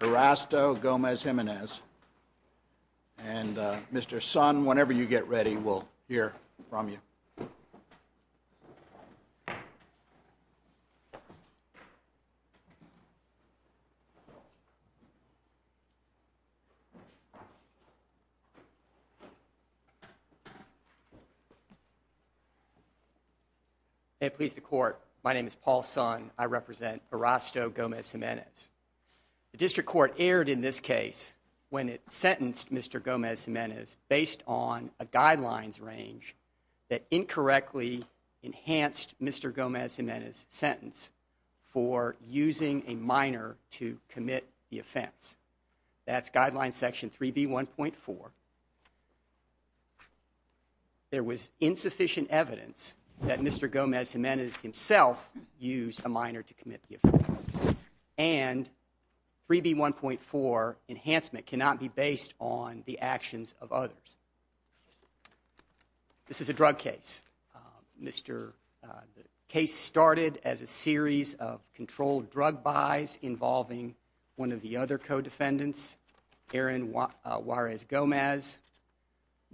Erasto Gomez-Jimenez, and Mr. Sun, whenever you get ready, we'll hear from you. May it please the Court, my name is Paul Sun, I represent Erasto Gomez-Jimenez. The District Court erred in this case when it sentenced Mr. Gomez-Jimenez based on a guidelines range that incorrectly enhanced Mr. Gomez-Jimenez's sentence for using a minor to commit the offense. That's Guidelines Section 3B1.4. There was insufficient evidence that Mr. Gomez-Jimenez himself used a minor to commit the offense. And 3B1.4 enhancement cannot be based on the This is a drug case. The case started as a series of controlled drug buys involving one of the other co-defendants, Aaron Juarez Gomez.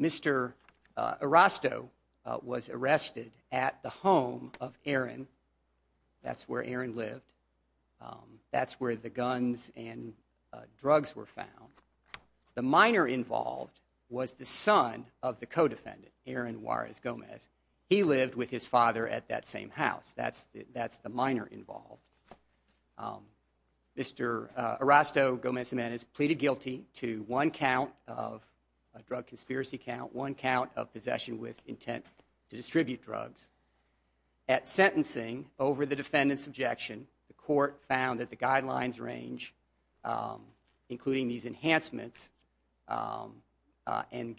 Mr. Erasto was arrested at the home of Aaron. That's where Aaron lived. That's where the guns and drugs were found. The minor involved was the son of the co-defendant, Aaron Juarez Gomez. He lived with his father at that same house. That's the minor involved. Mr. Erasto Gomez-Jimenez pleaded guilty to one count of drug conspiracy count, one count of possession with intent to distribute drugs. At sentencing over the defendant's objection, the Court found that the guidelines range, including these enhancements, and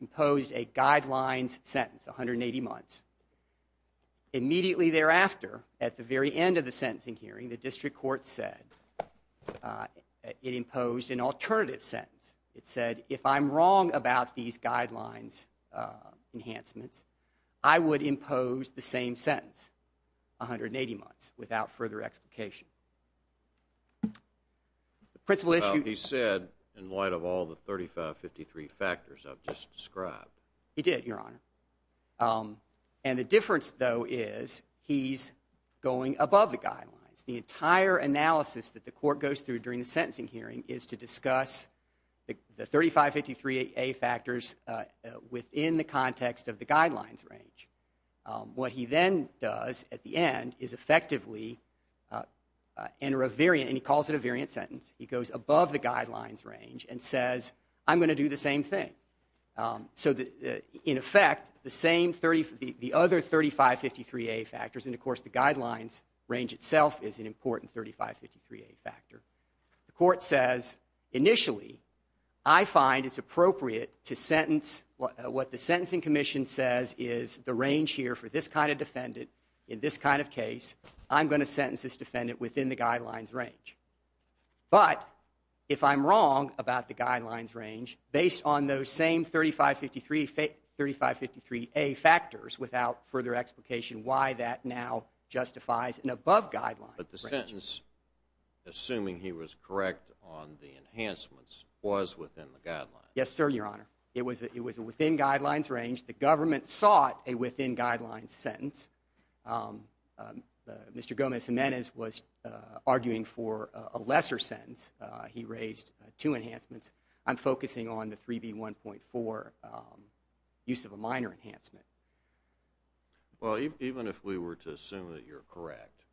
imposed a guidelines sentence, 180 months. Immediately thereafter, at the very end of the sentencing hearing, the District Court said, it imposed an alternative sentence. It said, if I'm wrong about these guidelines enhancements, I would impose the of all the 3553 factors I've just described. He did, Your Honor. And the difference, though, is he's going above the guidelines. The entire analysis that the Court goes through during the sentencing hearing is to discuss the 3553A factors within the context of the guidelines range. What he then does at the end is effectively enter a variant, and he calls it a variant sentence. He goes above the guidelines range and says, I'm going to do the same thing. So in effect, the other 3553A factors, and of course, the guidelines range itself is an important 3553A factor. The Court says, initially, I find it's appropriate to sentence what the Sentencing Commission says is the range here for this kind of defendant in this kind of case. I'm going to sentence this defendant within the guidelines range. But if I'm wrong about the guidelines range, based on those same 3553A factors, without further explication why that now justifies an above guidelines range. But the sentence, assuming he was correct on the enhancements, was within the guidelines. Yes, sir, Your Honor. It was within guidelines range. The government sought a within guidelines range sentence. Mr. Gomez-Gimenez was arguing for a lesser sentence. He raised two enhancements. I'm focusing on the 3B1.4 use of a minor enhancement. Well, even if we were to assume that you're correct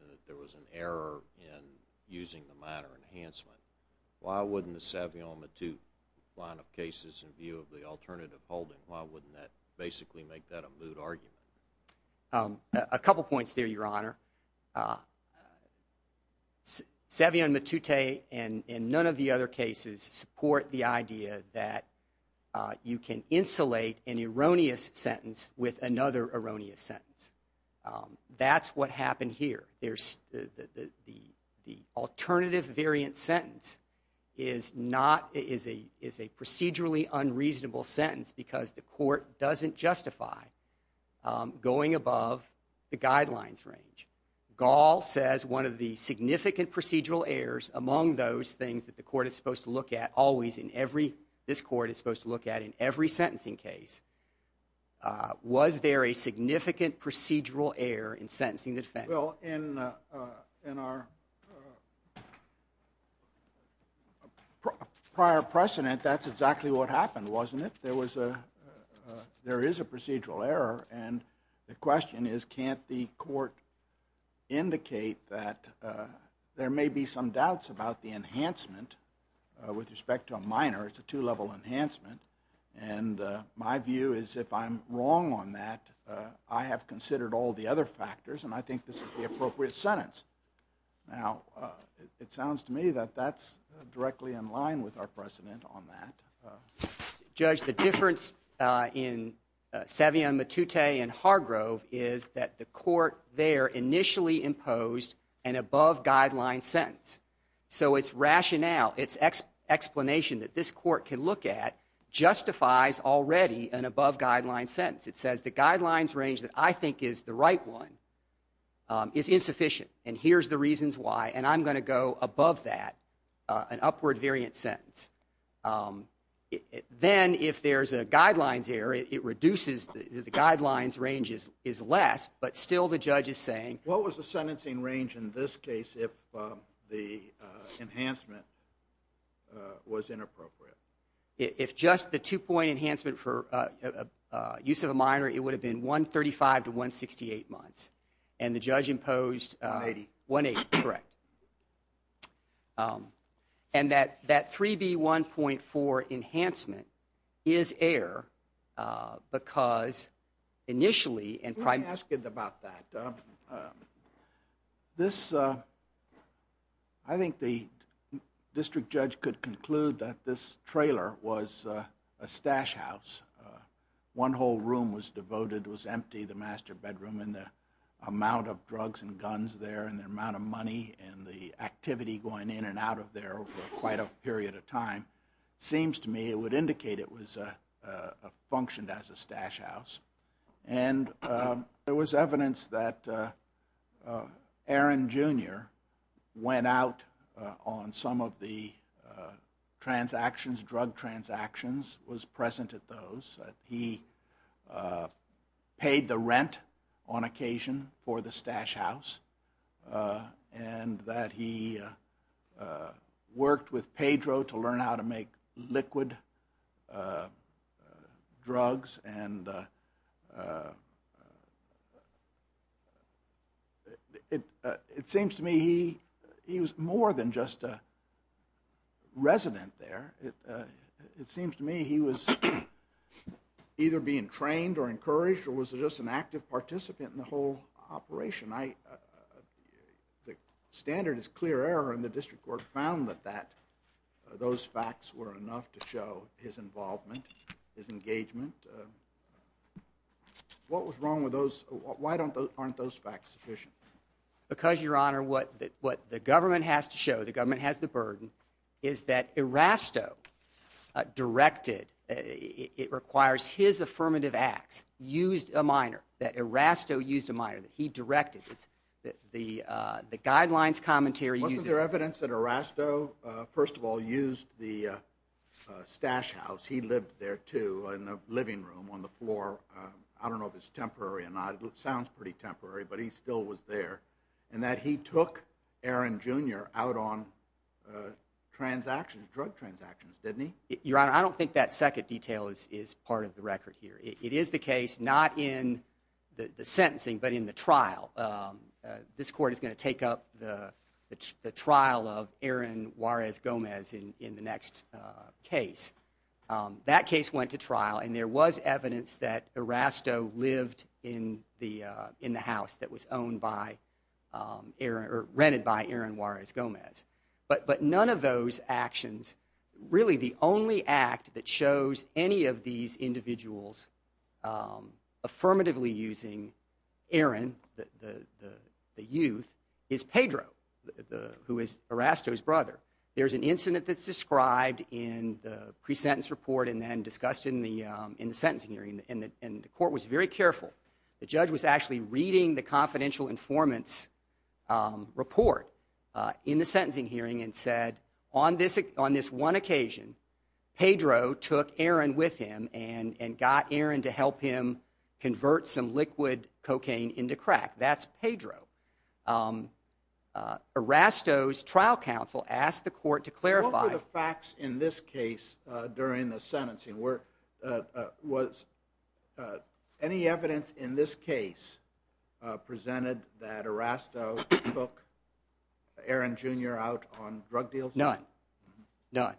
and that there was an error in using the minor enhancement, why wouldn't the Savion Matute line of cases in view of the alternative holding, why wouldn't that basically make that a moot argument? A couple points there, Your Honor. Savion Matute and none of the other cases support the idea that you can insulate an erroneous sentence with another erroneous sentence. That's what happened here. The alternative variant sentence is a procedurally unreasonable sentence because the court doesn't justify going above the guidelines range. Gall says one of the significant procedural errors among those things that the court is supposed to look at always in every, this court is supposed to look at in every sentencing case, was there a significant procedural error in sentencing the defendant? Well, in our prior precedent, that's exactly what happened, wasn't it? There was a, there is a procedural error and the question is can't the court indicate that there may be some doubts about the enhancement with respect to a minor, it's a two-level enhancement, and my view is if I'm wrong on that, I have considered all the other factors and I think this is the appropriate sentence. Now, it sounds to me that that's directly in line with our precedent on that. Judge, the difference in Savion Matute and Hargrove is that the court there initially imposed an above-guideline sentence, so its rationale, its explanation that this court can look at justifies already an above-guideline sentence. It says the guidelines range that I think is the right one is insufficient and here's the reasons why, and I'm going to go above that, an upward variant sentence. Then, if there's a guidelines error, it reduces, the guidelines range is less, but still the judge is saying. What was the sentencing range in this case if the enhancement was inappropriate? If just the two-point enhancement for use of a minor, it would have been 135 to 168 months, and the judge imposed 180, correct. And that 3B1.4 enhancement is error because initially and primarily. I'm asking about that. This, I think the district judge could conclude that this trailer was a stash house. One whole room was devoted, was empty, the master bedroom and the amount of drugs and guns there and the amount of money and the activity going in and out of there over quite a period of time. Seems to me it would indicate it was functioned as a stash house. And there was evidence that Aaron Jr. went out on some of the transactions, drug transactions, was present at those. He paid the rent on occasion for the stash house and that he worked with Pedro to learn how to make liquid drugs. And it seems to me he was more than just a resident there. It seems to me he was either being trained or encouraged or was just an active participant in the whole operation. The standard is clear error and the district court found that those facts were enough to show his involvement, his engagement. What was wrong with those? Why aren't those facts sufficient? Because, Your Honor, what the government has to show, the government has the burden, is that Erasto directed, it requires his affirmative acts, used a minor, that Erasto used a minor, that he directed. The guidelines commentary uses... Wasn't there evidence that Erasto, first of all, used the stash house? He lived there too in a living room on the floor. I don't know if it's temporary or not. It sounds pretty transactions, drug transactions, didn't he? Your Honor, I don't think that second detail is part of the record here. It is the case, not in the sentencing, but in the trial. This court is going to take up the trial of Aaron Juarez Gomez in the next case. That case went to trial and there was evidence that Erasto lived in the house that was owned by Aaron, or rented by Aaron Juarez Gomez. But none of those actions, really the only act that shows any of these individuals affirmatively using Aaron, the youth, is Pedro, who is Erasto's brother. There's an incident that's described in the pre-sentence report and then discussed in the sentencing hearing and the court was very careful. The judge was actually reading the confidential informants report in the sentencing hearing and said, on this one occasion, Pedro took Aaron with him and got Aaron to help him convert some liquid cocaine into crack. That's Pedro. Erasto's trial counsel asked the court to clarify... In this case, during the sentencing, was any evidence in this case presented that Erasto took Aaron Jr. out on drug deals? None. None.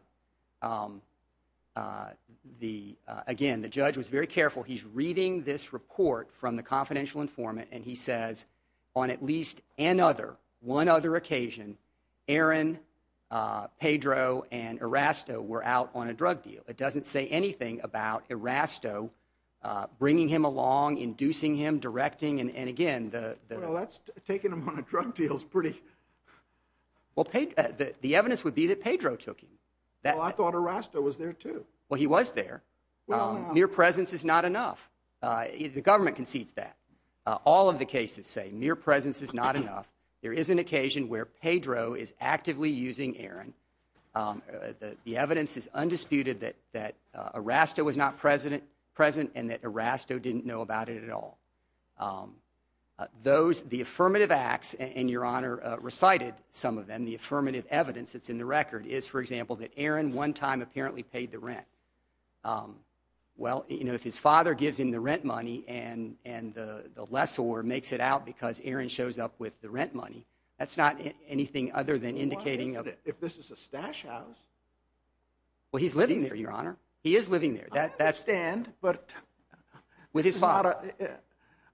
Again, the judge was very careful. He's reading this report from the confidential were out on a drug deal. It doesn't say anything about Erasto bringing him along, inducing him, directing, and again, the... Well, that's taking him on a drug deal is pretty... Well, the evidence would be that Pedro took him. Well, I thought Erasto was there, too. Well, he was there. Mere presence is not enough. The government concedes that. All of the cases say mere presence is not enough. There is an occasion where Pedro is actively using Aaron. The evidence is undisputed that Erasto was not present and that Erasto didn't know about it at all. Those, the affirmative acts, and Your Honor recited some of them, the affirmative evidence that's in the record is, for example, that Aaron one time apparently paid the rent. Well, if his father gives him the rent money and the lessor makes it out because Aaron shows up with the rent money, that's not anything other than indicating... If this is a stash house... Well, he's living there, Your Honor. He is living there. I understand, but... With his father.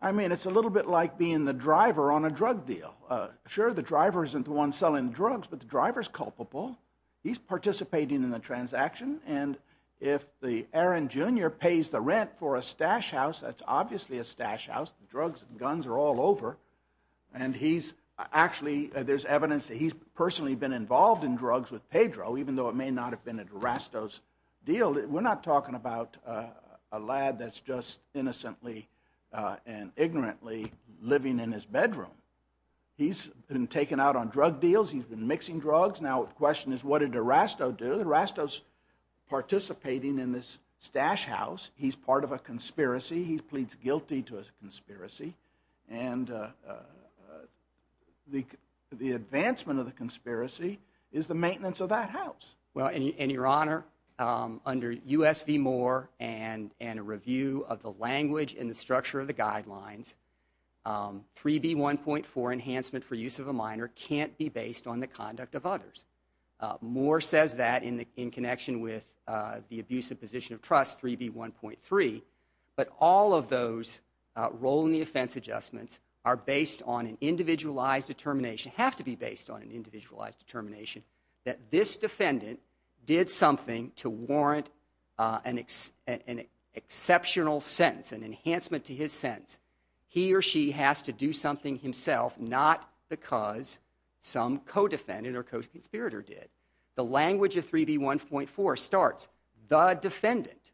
I mean, it's a little bit like being the driver on a drug deal. Sure, the driver isn't the one selling drugs, but the driver's culpable. He's participating in the transaction, and if the Aaron Jr. pays the rent for a stash house, that's obviously a stash house. The drugs and guns are all over, and he's actually... There's evidence that he's personally been involved in drugs with Pedro, even though it may not have been a Durasto's deal. We're not talking about a lad that's just innocently and ignorantly living in his bedroom. He's been taken out on drug deals. He's been mixing drugs. Now, the question is, what did Durasto do? Durasto's participating in this stash house. He's part of a conspiracy. He pleads guilty to a conspiracy, and the advancement of the conspiracy is the maintenance of that house. Well, and Your Honor, under U.S. v. Moore and a review of the language and the structure of the guidelines, 3B1.4, enhancement for use of a minor, can't be based on the conduct of others. Moore says that in connection with the abusive position of trust, 3B1.3, but all of those role in the offense adjustments are based on an individualized determination, have to be based on an individualized determination, that this defendant did something to warrant an exceptional sentence, an enhancement to his sentence. He or she has to do something himself, not because some co-defendant or co-conspirator did. The language of 3B1.4 starts, the defendant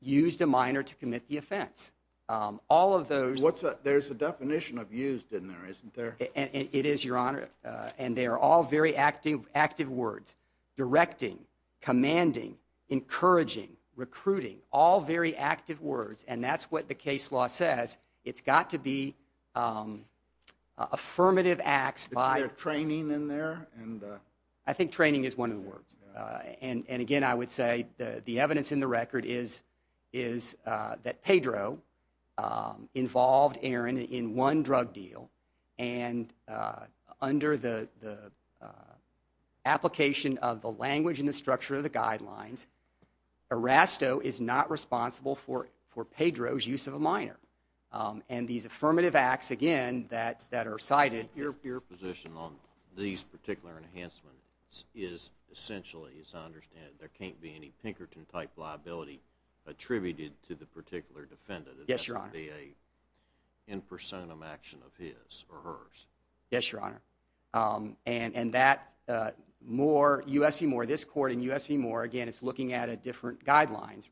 used a minor to commit the offense. All of those... There's a definition of used in there, isn't there? It is, Your Honor, and they are all very active words. Directing, commanding, encouraging, recruiting, all very active words, and that's what the case law says. It's got to be affirmative acts by... Is there training in there? I think training is one of the words. And again, I would say the evidence in the record is that Pedro involved Aaron in one drug deal, and under the application of the language and the structure of the guidelines, Erasto is not responsible for Pedro's use of a minor. And these affirmative acts, again, that are cited... Your position on these particular enhancements is essentially, as I understand it, there can't be any Pinkerton-type liability attributed to the particular defendant. Yes, Your Honor. It has to be an in personam action of his or hers. Yes, Your Honor. And that's more... This court in US v. Moore, again, it's looking at a different guidelines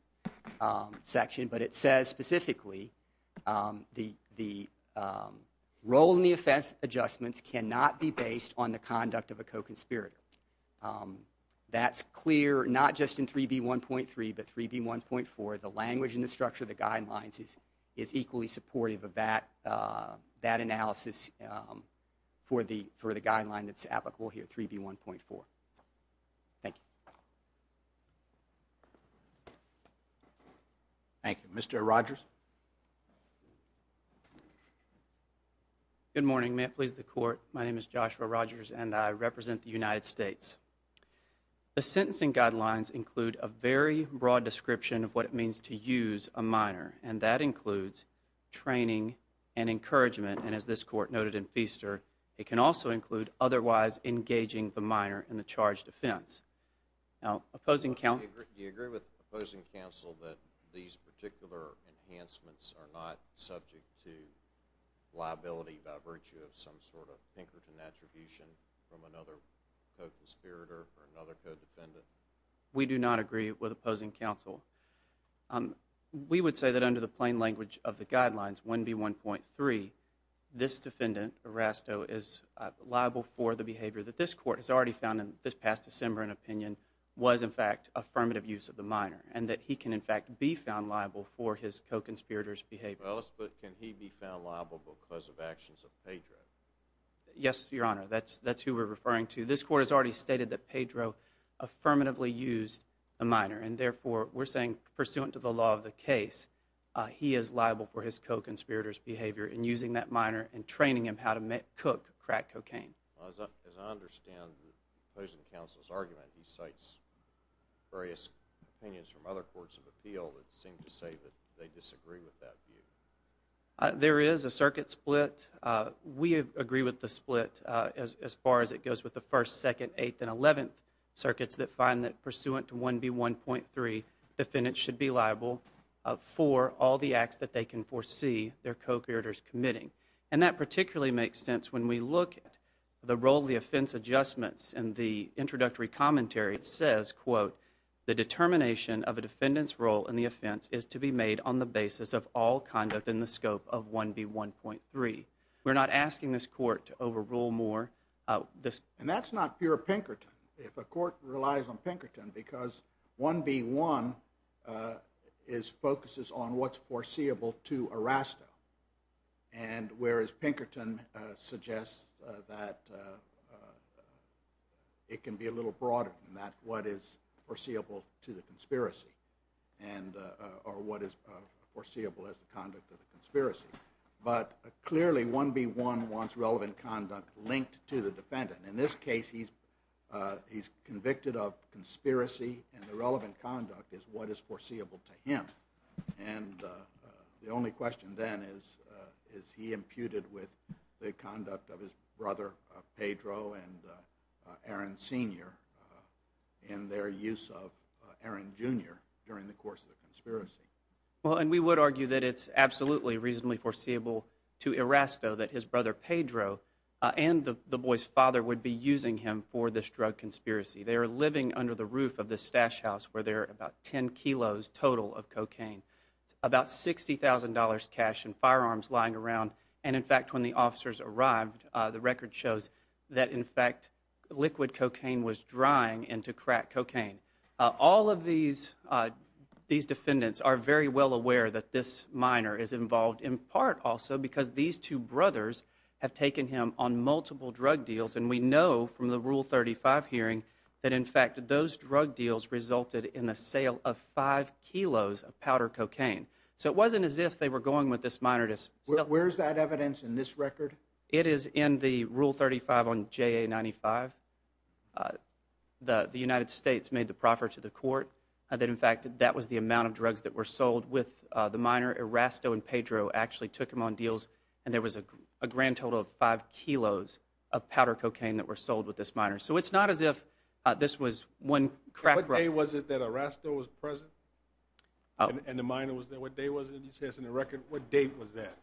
section, but it says specifically the role in the adjustments cannot be based on the conduct of a co-conspirator. That's clear, not just in 3B1.3, but 3B1.4, the language and the structure of the guidelines is equally supportive of that analysis for the guideline that's applicable here, 3B1.4. Thank you. Thank you. Mr. Rogers? Good morning. May it please the Court, my name is Joshua Rogers, and I represent the United States. The sentencing guidelines include a very broad description of what it means to use a minor, and that includes training and encouragement, and as this Court noted in Feaster, it can also include otherwise engaging the minor in the charged offense. Do you agree with opposing counsel that these particular enhancements are not subject to liability by virtue of some sort of Pinkerton attribution from another co-conspirator or another co-defendant? We do not agree with opposing counsel. We would say that under the plain language of the guidelines, 1B1.3, this defendant, Erasto, is liable for the behavior that this Court has already found in this past December in opinion was, in fact, affirmative use of the minor, and that he can, in fact, be found liable for his co-conspirator's behavior. Well, but can he be found liable because of actions of Pedro? Yes, Your Honor, that's who we're referring to. This Court has already stated that Pedro affirmatively used a minor, and therefore, we're saying, pursuant to the law of the case, that he is liable for his co-conspirator's behavior in using that minor and training him how to cook crack cocaine. As I understand opposing counsel's argument, he cites various opinions from other courts of appeal that seem to say that they disagree with that view. There is a circuit split. We agree with the split as far as it goes with the First, Second, Eighth, and Eleventh Circuits that find that, pursuant to 1B1.3, defendants should be liable for all the acts that they can foresee their co-conspirators committing, and that particularly makes sense when we look at the role of the offense adjustments in the introductory commentary that says, quote, the determination of a defendant's role in the offense is to be made on the basis of all conduct in the scope of 1B1.3. We're not asking this Court to overrule more this That's not pure Pinkerton. If a court relies on Pinkerton, because 1B1 focuses on what's foreseeable to Erasto, and whereas Pinkerton suggests that it can be a little broader than that, what is foreseeable to the conspiracy, or what is foreseeable as the conduct of the conspiracy, but clearly 1B1 wants relevant conduct linked to the defendant. In this case, he's convicted of conspiracy, and the relevant conduct is what is foreseeable to him, and the only question then is, is he imputed with the conduct of his brother Pedro and Aaron Sr. in their use of Aaron Jr. during the course of the conspiracy. And we would argue that it's absolutely reasonably foreseeable to Erasto that his brother Pedro and the boy's father would be using him for this drug conspiracy. They are living under the roof of this stash house where there are about 10 kilos total of cocaine, about $60,000 cash and firearms lying around, and in fact, when the officers arrived, the record shows that in fact, liquid cocaine was drying into crack cocaine. All of these defendants are very well aware that this minor is involved in part also because these two brothers have taken him on multiple drug deals, and we know from the Rule 35 hearing that in fact, those drug deals resulted in the sale of five kilos of powder cocaine. So it wasn't as if they were going with this minor to sell. Where's that evidence in this record? It is in the Rule 35 on JA95. The United States made the proffer to the court that in fact, that was the amount of drugs that were sold with the minor. Erasto and Pedro actually took him on deals, and there was a grand total of five kilos of powder cocaine that were sold with this minor. So it's not as if this was one crack drug. What day was it that Erasto was present? And the minor was there? What day was it? You say it's in the record. What date was that?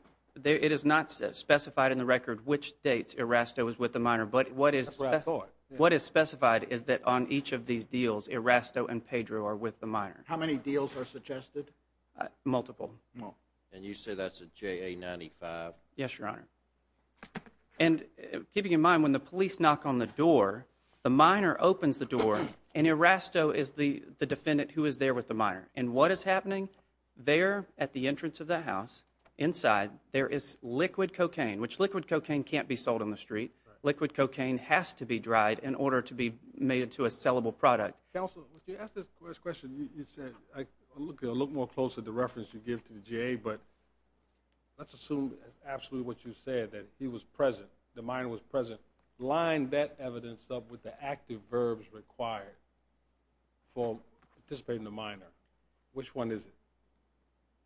It is not specified in the record which date Erasto was with the minor, but what is specified is that on each of these deals, Erasto and Pedro are with the minor. How many deals are suggested? Multiple. And you say that's a JA95? Yes, Your Honor. And keeping in mind, when the police knock on the door, the minor opens the door, and Erasto is the defendant who is there with the minor. And what is happening? There at the entrance of the house, inside, there is liquid cocaine, which liquid cocaine can't be sold on the street. Liquid cocaine has to be dried in order to be made into a sellable product. Counsel, when you asked this question, you said, look a little more closely at the reference you give to the JA, but let's assume absolutely what you said, that he was present, the minor was present. Line that evidence up with the active verbs required for participating in the minor. Which one is it?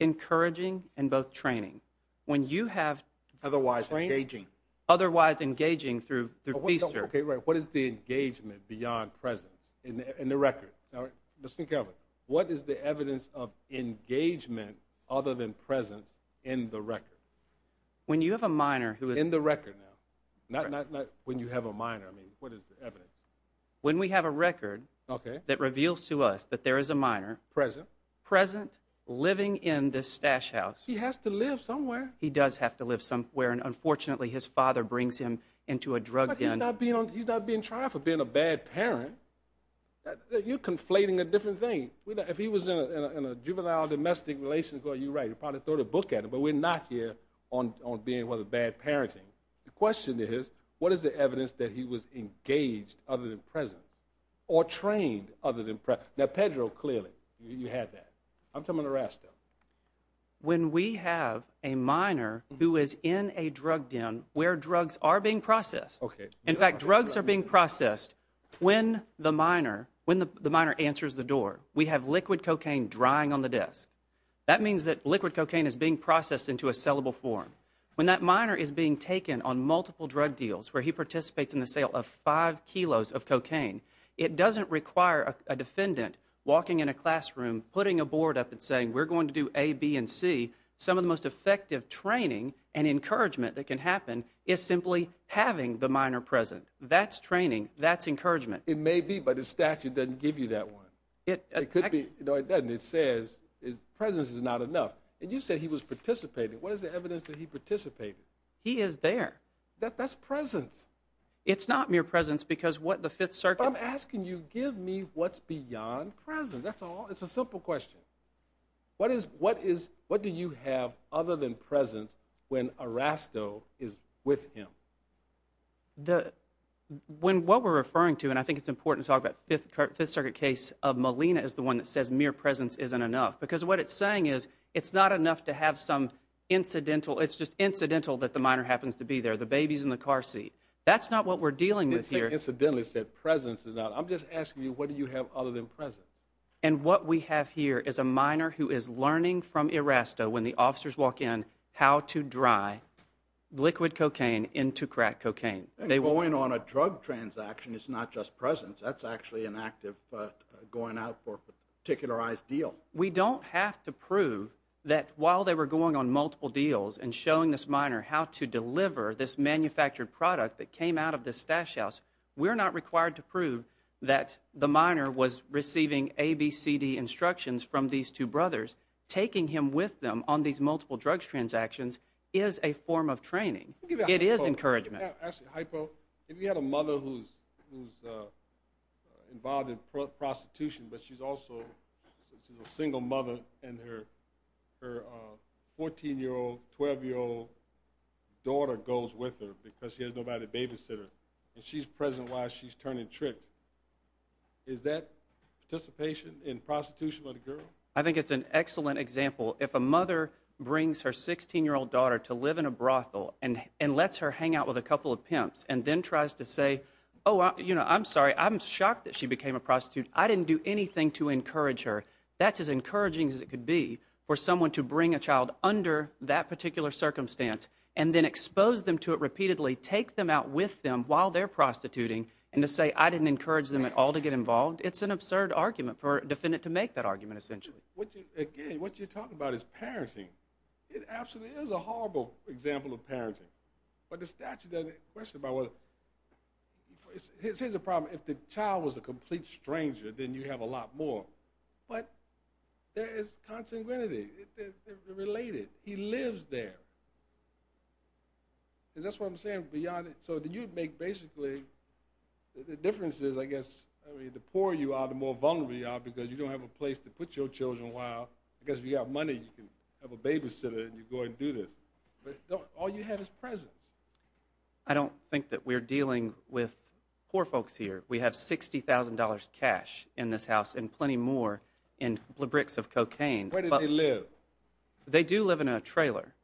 Encouraging and both training. When you have training... Otherwise engaging. Otherwise engaging through the officer. Okay, right. What is the engagement beyond presence in the record? Now, listen carefully. What is the evidence of engagement other than presence in the record? When you have a minor who is... In the record now. Not when you have a minor. I mean, what is the evidence? When we have a record that reveals to us that there is a minor... Present. Present, living in this stash house. He has to live somewhere. He does have to live somewhere. And unfortunately, his father brings him into a drug den. He's not being tried for being a bad parent. You're conflating a different thing. If he was in a juvenile domestic relationship, you're right, you'd probably throw the book at him, but we're not here on being with a bad parenting. The question is, what is the evidence that he was engaged other than present? Or trained other than... Now, Pedro, clearly, you had that. I'm talking about the rest of them. When we have a minor who is in a drug den where drugs are being processed. In fact, drugs are being processed when the minor answers the door. We have liquid cocaine drying on the desk. That means that liquid cocaine is being processed into a sellable form. When that minor is being taken on multiple drug deals where he participates in the sale of five kilos of cocaine, it doesn't require a defendant walking in a classroom, putting a board up and saying, we're going to do A, B, and C. Some of the most effective training and encouragement that can happen is simply having the minor present. That's training. That's encouragement. It may be, but the statute doesn't give you that one. It could be. No, it doesn't. It says his presence is not enough. And you said he was participating. What is the evidence that he participated? He is there. That's presence. It's not mere presence because what the Fifth Circuit... I'm asking you, give me what's beyond presence. That's all. Simple question. What is, what is, what do you have other than presence when a rasto is with him? The, when, what we're referring to, and I think it's important to talk about Fifth Circuit case of Molina is the one that says mere presence isn't enough because what it's saying is it's not enough to have some incidental, it's just incidental that the minor happens to be there. The baby's in the car seat. That's not what we're dealing with here. Incidentally said presence is not, I'm just asking you, what do you have other than presence? And what we have here is a minor who is learning from a rasto when the officers walk in how to dry liquid cocaine into crack cocaine. And going on a drug transaction is not just presence. That's actually an active going out for a particularized deal. We don't have to prove that while they were going on multiple deals and showing this minor how to deliver this manufactured product that came out of this stash house, we're not required to prove that the minor was receiving A, B, C, D instructions from these two brothers. Taking him with them on these multiple drug transactions is a form of training. It is encouragement. Actually, hypo, if you had a mother who's involved in prostitution, but she's also a single mother and her 14-year-old, 12-year-old daughter goes with her because she has nobody to babysit her and she's present while she's turning tricks, is that participation in prostitution with a girl? I think it's an excellent example. If a mother brings her 16-year-old daughter to live in a brothel and lets her hang out with a couple of pimps and then tries to say, oh, I'm sorry, I'm shocked that she became a prostitute. I didn't do anything to encourage her. That's as encouraging as it could be for someone to bring a child under that particular circumstance and then expose them to it repeatedly, take them out with them while they're prostituting and to say, I didn't encourage them at all to get involved. It's an absurd argument for a defendant to make that argument, essentially. Again, what you're talking about is parenting. It absolutely is a horrible example of parenting, but the statute doesn't question about whether. Here's the problem. If the child was a complete stranger, then you have a lot more, but there is contingency. They're related. He lives there. That's what I'm saying. You'd make, basically, the difference is, I guess, the poorer you are, the more vulnerable you are because you don't have a place to put your children while, I guess, if you have money, you can have a babysitter and you go and do this. All you have is presence. I don't think that we're dealing with poor folks here. We have $60,000 cash in this house and plenty more in bricks of cocaine. Where do they live? They do live in a trailer,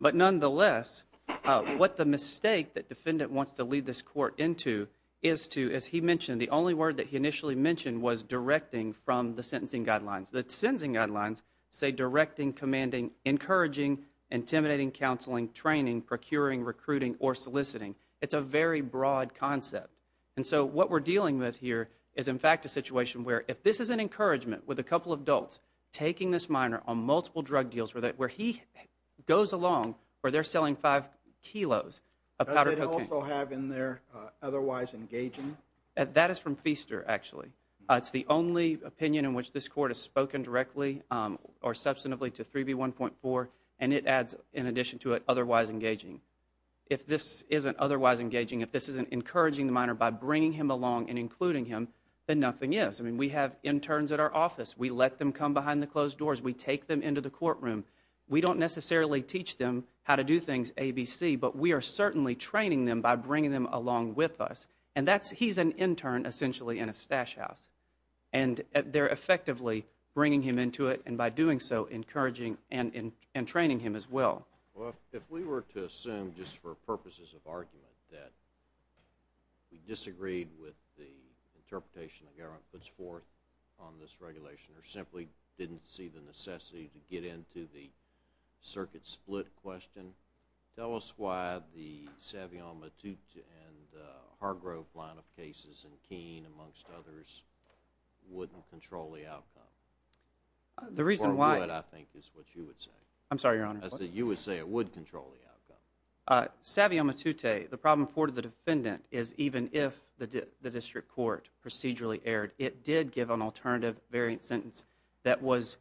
but nonetheless, what the mistake that defendant wants to lead this court into is to, as he mentioned, the only word that he initially mentioned was directing from the sentencing guidelines. The sentencing guidelines say directing, commanding, encouraging, intimidating, counseling, training, procuring, recruiting, or soliciting. It's a very broad concept. What we're dealing with here is, in fact, a situation where if this is an encouragement with a couple of adults taking this minor on multiple drug deals where he goes along where they're selling five kilos of powder cocaine. Does it also have in there otherwise engaging? That is from Feaster, actually. It's the only opinion in which this court has spoken directly or substantively to 3B1.4 and it adds, in addition to it, otherwise engaging. If this isn't otherwise engaging, if this isn't encouraging the minor by bringing him along and including him, then nothing is. We have interns at our office. We let them come behind the closed doors. We take them into the courtroom. We don't necessarily teach them how to do things A, B, C, but we are certainly training them by bringing them along with us. He's an intern essentially in a stash house. They're effectively bringing him into it and by doing so, encouraging and training him as well. If we were to assume, just for purposes of argument, that we disagreed with the interpretation the government puts forth on this regulation or simply didn't see the necessity to get into the circuit split question, tell us why the Savion, Matute, and Hargrove line of cases in Keene, amongst others, wouldn't control the outcome? The reason why... Or what, I think, is what you would say. I'm sorry, Your Honor. I said you would say it would control the outcome. Savion, Matute, the problem for the defendant is even if the district court procedurally erred, it did give an alternative variant sentence that was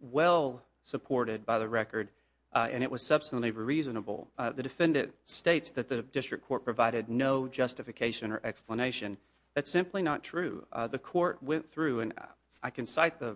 well supported by the record and it was substantially reasonable. The defendant states that the district court provided no justification or explanation. That's simply not true. The court went through, and I can assure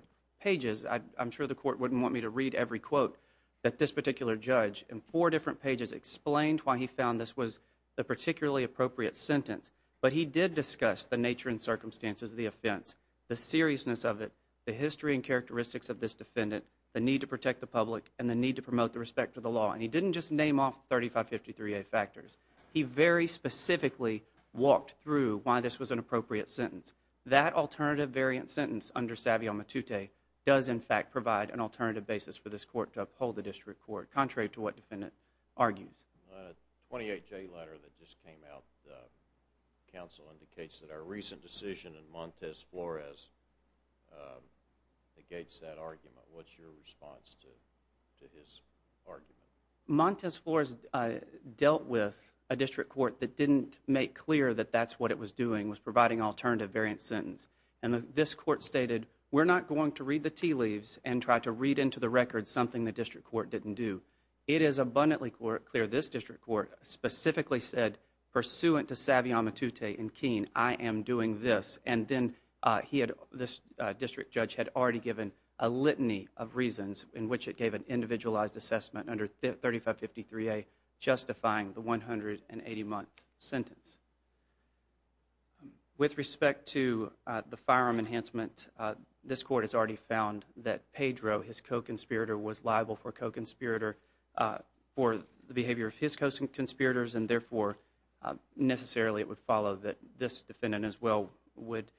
the court wouldn't want me to read every quote, that this particular judge in four different pages explained why he found this was a particularly appropriate sentence. But he did discuss the nature and circumstances of the offense, the seriousness of it, the history and characteristics of this defendant, the need to protect the public, and the need to promote the respect for the law. And he didn't just name off 3553A factors. He very specifically walked through why this was an appropriate sentence. That alternative variant sentence under Savion, Matute, does in fact provide an alternative basis for this court to uphold the district court, contrary to what the defendant argues. I have a 28-J letter that just came out. The counsel indicates that our recent decision in Montes Flores negates that argument. What's your response to his argument? Montes Flores dealt with a district court that didn't make clear that that's what it was doing, was providing an alternative variant sentence. And this court stated, we're not going to read the tea leaves and try to read into the record something the district court didn't do. It is abundantly clear this district court specifically said, pursuant to Savion, Matute, and Keene, I am doing this. And then this district judge had already given a litany of reasons in which it gave an individualized assessment under 3553A justifying the 180-month sentence. With respect to the firearm enhancement, this court has already found that Pedro, his co-conspirator, was liable for the behavior of his co-conspirators, and therefore, necessarily it would follow that this defendant as well would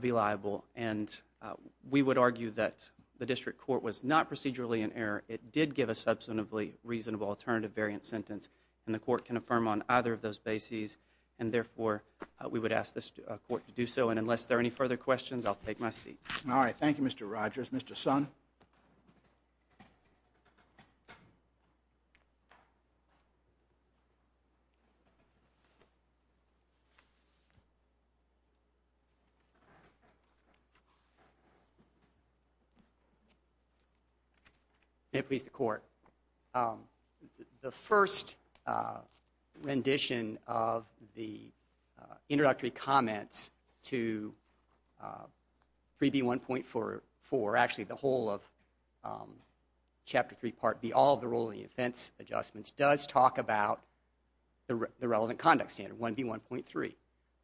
be liable. And we would argue that the district court was not procedurally in error. It did give a substantively reasonable alternative variant sentence. And the court can affirm on either of those bases. And therefore, we would ask this court to do so. And unless there are any further questions, I'll take my seat. All right. Thank you, Mr. Rogers. Mr. Son? May it please the court. The first rendition of the introductory comments to 3B1.44, actually the whole of Chapter 3, Part B, all of the ruling defense adjustments does talk about the relevant conduct standard, 1B1.3.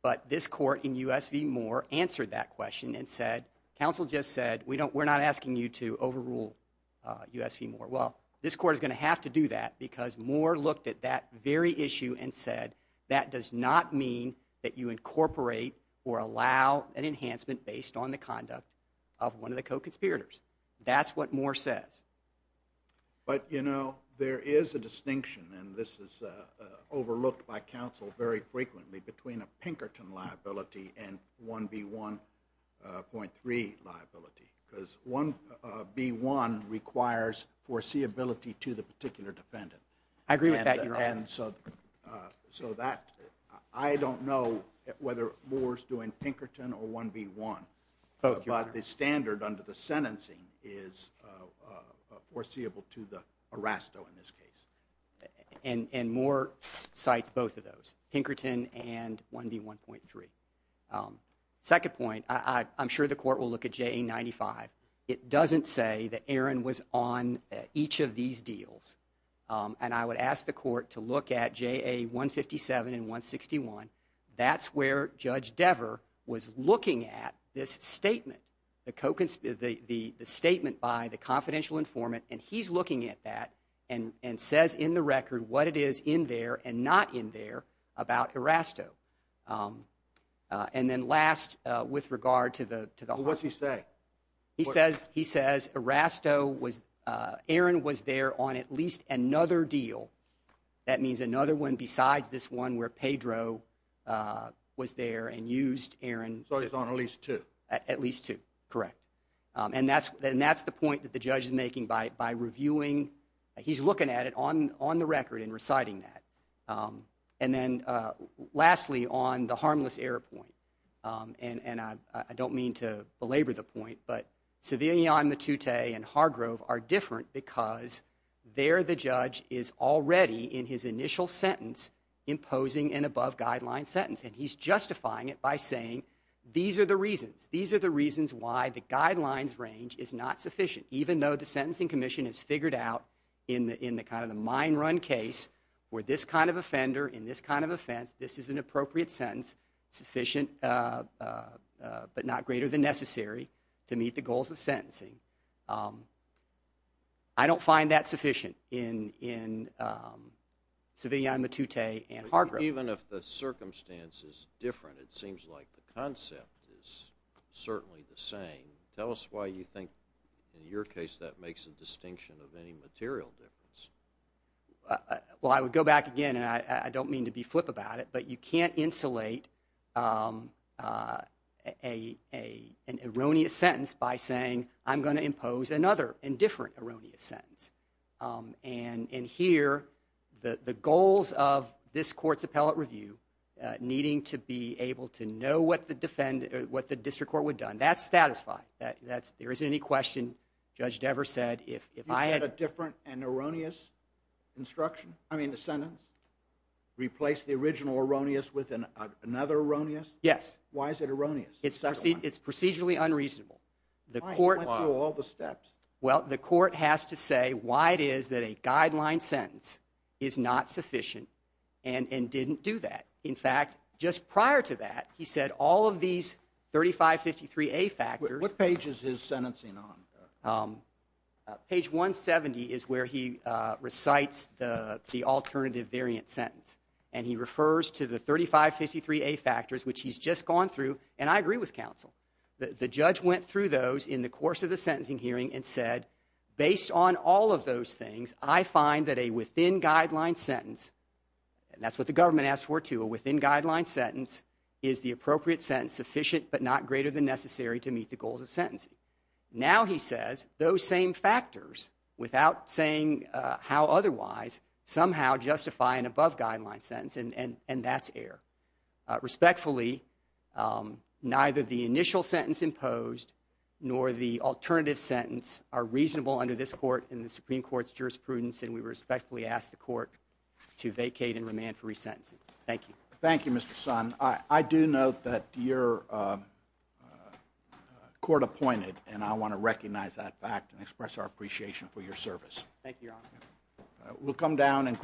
But this court in U.S. v. Moore answered that question and said, counsel just said, we're not asking you to overrule U.S. v. Moore. Well, this court is going to have to do that because Moore looked at that very issue and said that does not mean that you incorporate or allow an enhancement based on the conduct of one of the co-conspirators. That's what Moore says. But, you know, there is a distinction, and this is overlooked by counsel very frequently, between a Pinkerton liability and 1B1.3 liability. Because 1B1 requires foreseeability to the particular defendant. I agree with that, Your Honor. The standard under the sentencing is foreseeable to the arrest in this case. And Moore cites both of those, Pinkerton and 1B1.3. Second point, I'm sure the court will look at JA95. It doesn't say that Aaron was on each of these deals. And I would ask the co-conspirator, the statement by the confidential informant, and he's looking at that and says in the record what it is in there and not in there about Erasto. And then last, with regard to the… Well, what's he say? He says, Erasto was, Aaron was there on at least another deal. That means another one besides this one where Pedro was there and used Aaron So he's on at least two. At least two, correct. And that's the point that the judge is making by reviewing… He's looking at it on the record and reciting that. And then lastly, on the harmless error point, and I don't mean to belabor the point, but Civilian Matute and Hargrove are different because there the judge is already in his initial sentence imposing an above-guideline sentence. And he's justifying it by saying these are the reasons. These are the reasons why the guidelines range is not sufficient. Even though the Sentencing Commission has figured out in the kind of the mine run case where this kind of offender in this kind of offense, this is an appropriate sentence, sufficient but not greater than necessary to meet the goals of sentencing. I don't find that sufficient in Civilian Matute and Hargrove. Even if the circumstance is different, it seems like the concept is certainly the same. Tell us why you think in your case that makes a distinction of any material difference. Well, I would go back again, and I don't mean to be flip about it, but you can't insulate an erroneous sentence by saying I'm going to impose another and different erroneous sentence. And here, the goals of this court's appellate review needing to be able to know what the district court would have done, that's satisfying. There isn't any question. Judge Devers said if I had a different and erroneous sentence, replace the original erroneous with another erroneous? Yes. Why is it erroneous? It's procedurally unreasonable. The court has to say why it is that a guideline sentence is not sufficient and didn't do that. In fact, just prior to that, he said all of these 3553A factors. What page is his sentencing on? Page 170 is where he recites the alternative variant sentence, and he refers to the 3553A factors, which he's just gone through, and I agree with counsel. The judge went through those in the course of the sentencing hearing and said based on all of those things, I find that a within-guideline sentence, and that's what the government asked for too, a within-guideline sentence is the appropriate sentence, sufficient but not greater than necessary to meet the goals of sentencing. Now he says those same factors without saying how otherwise somehow justify an above-guideline sentence, and that's respectfully neither the initial sentence imposed nor the alternative sentence are reasonable under this court in the Supreme Court's jurisprudence, and we respectfully ask the court to vacate and remand for resentencing. Thank you. Thank you, Mr. Son. I do note that you're court-appointed, and I want to recognize that fact and express our appreciation for your service. Thank you, Your Honor.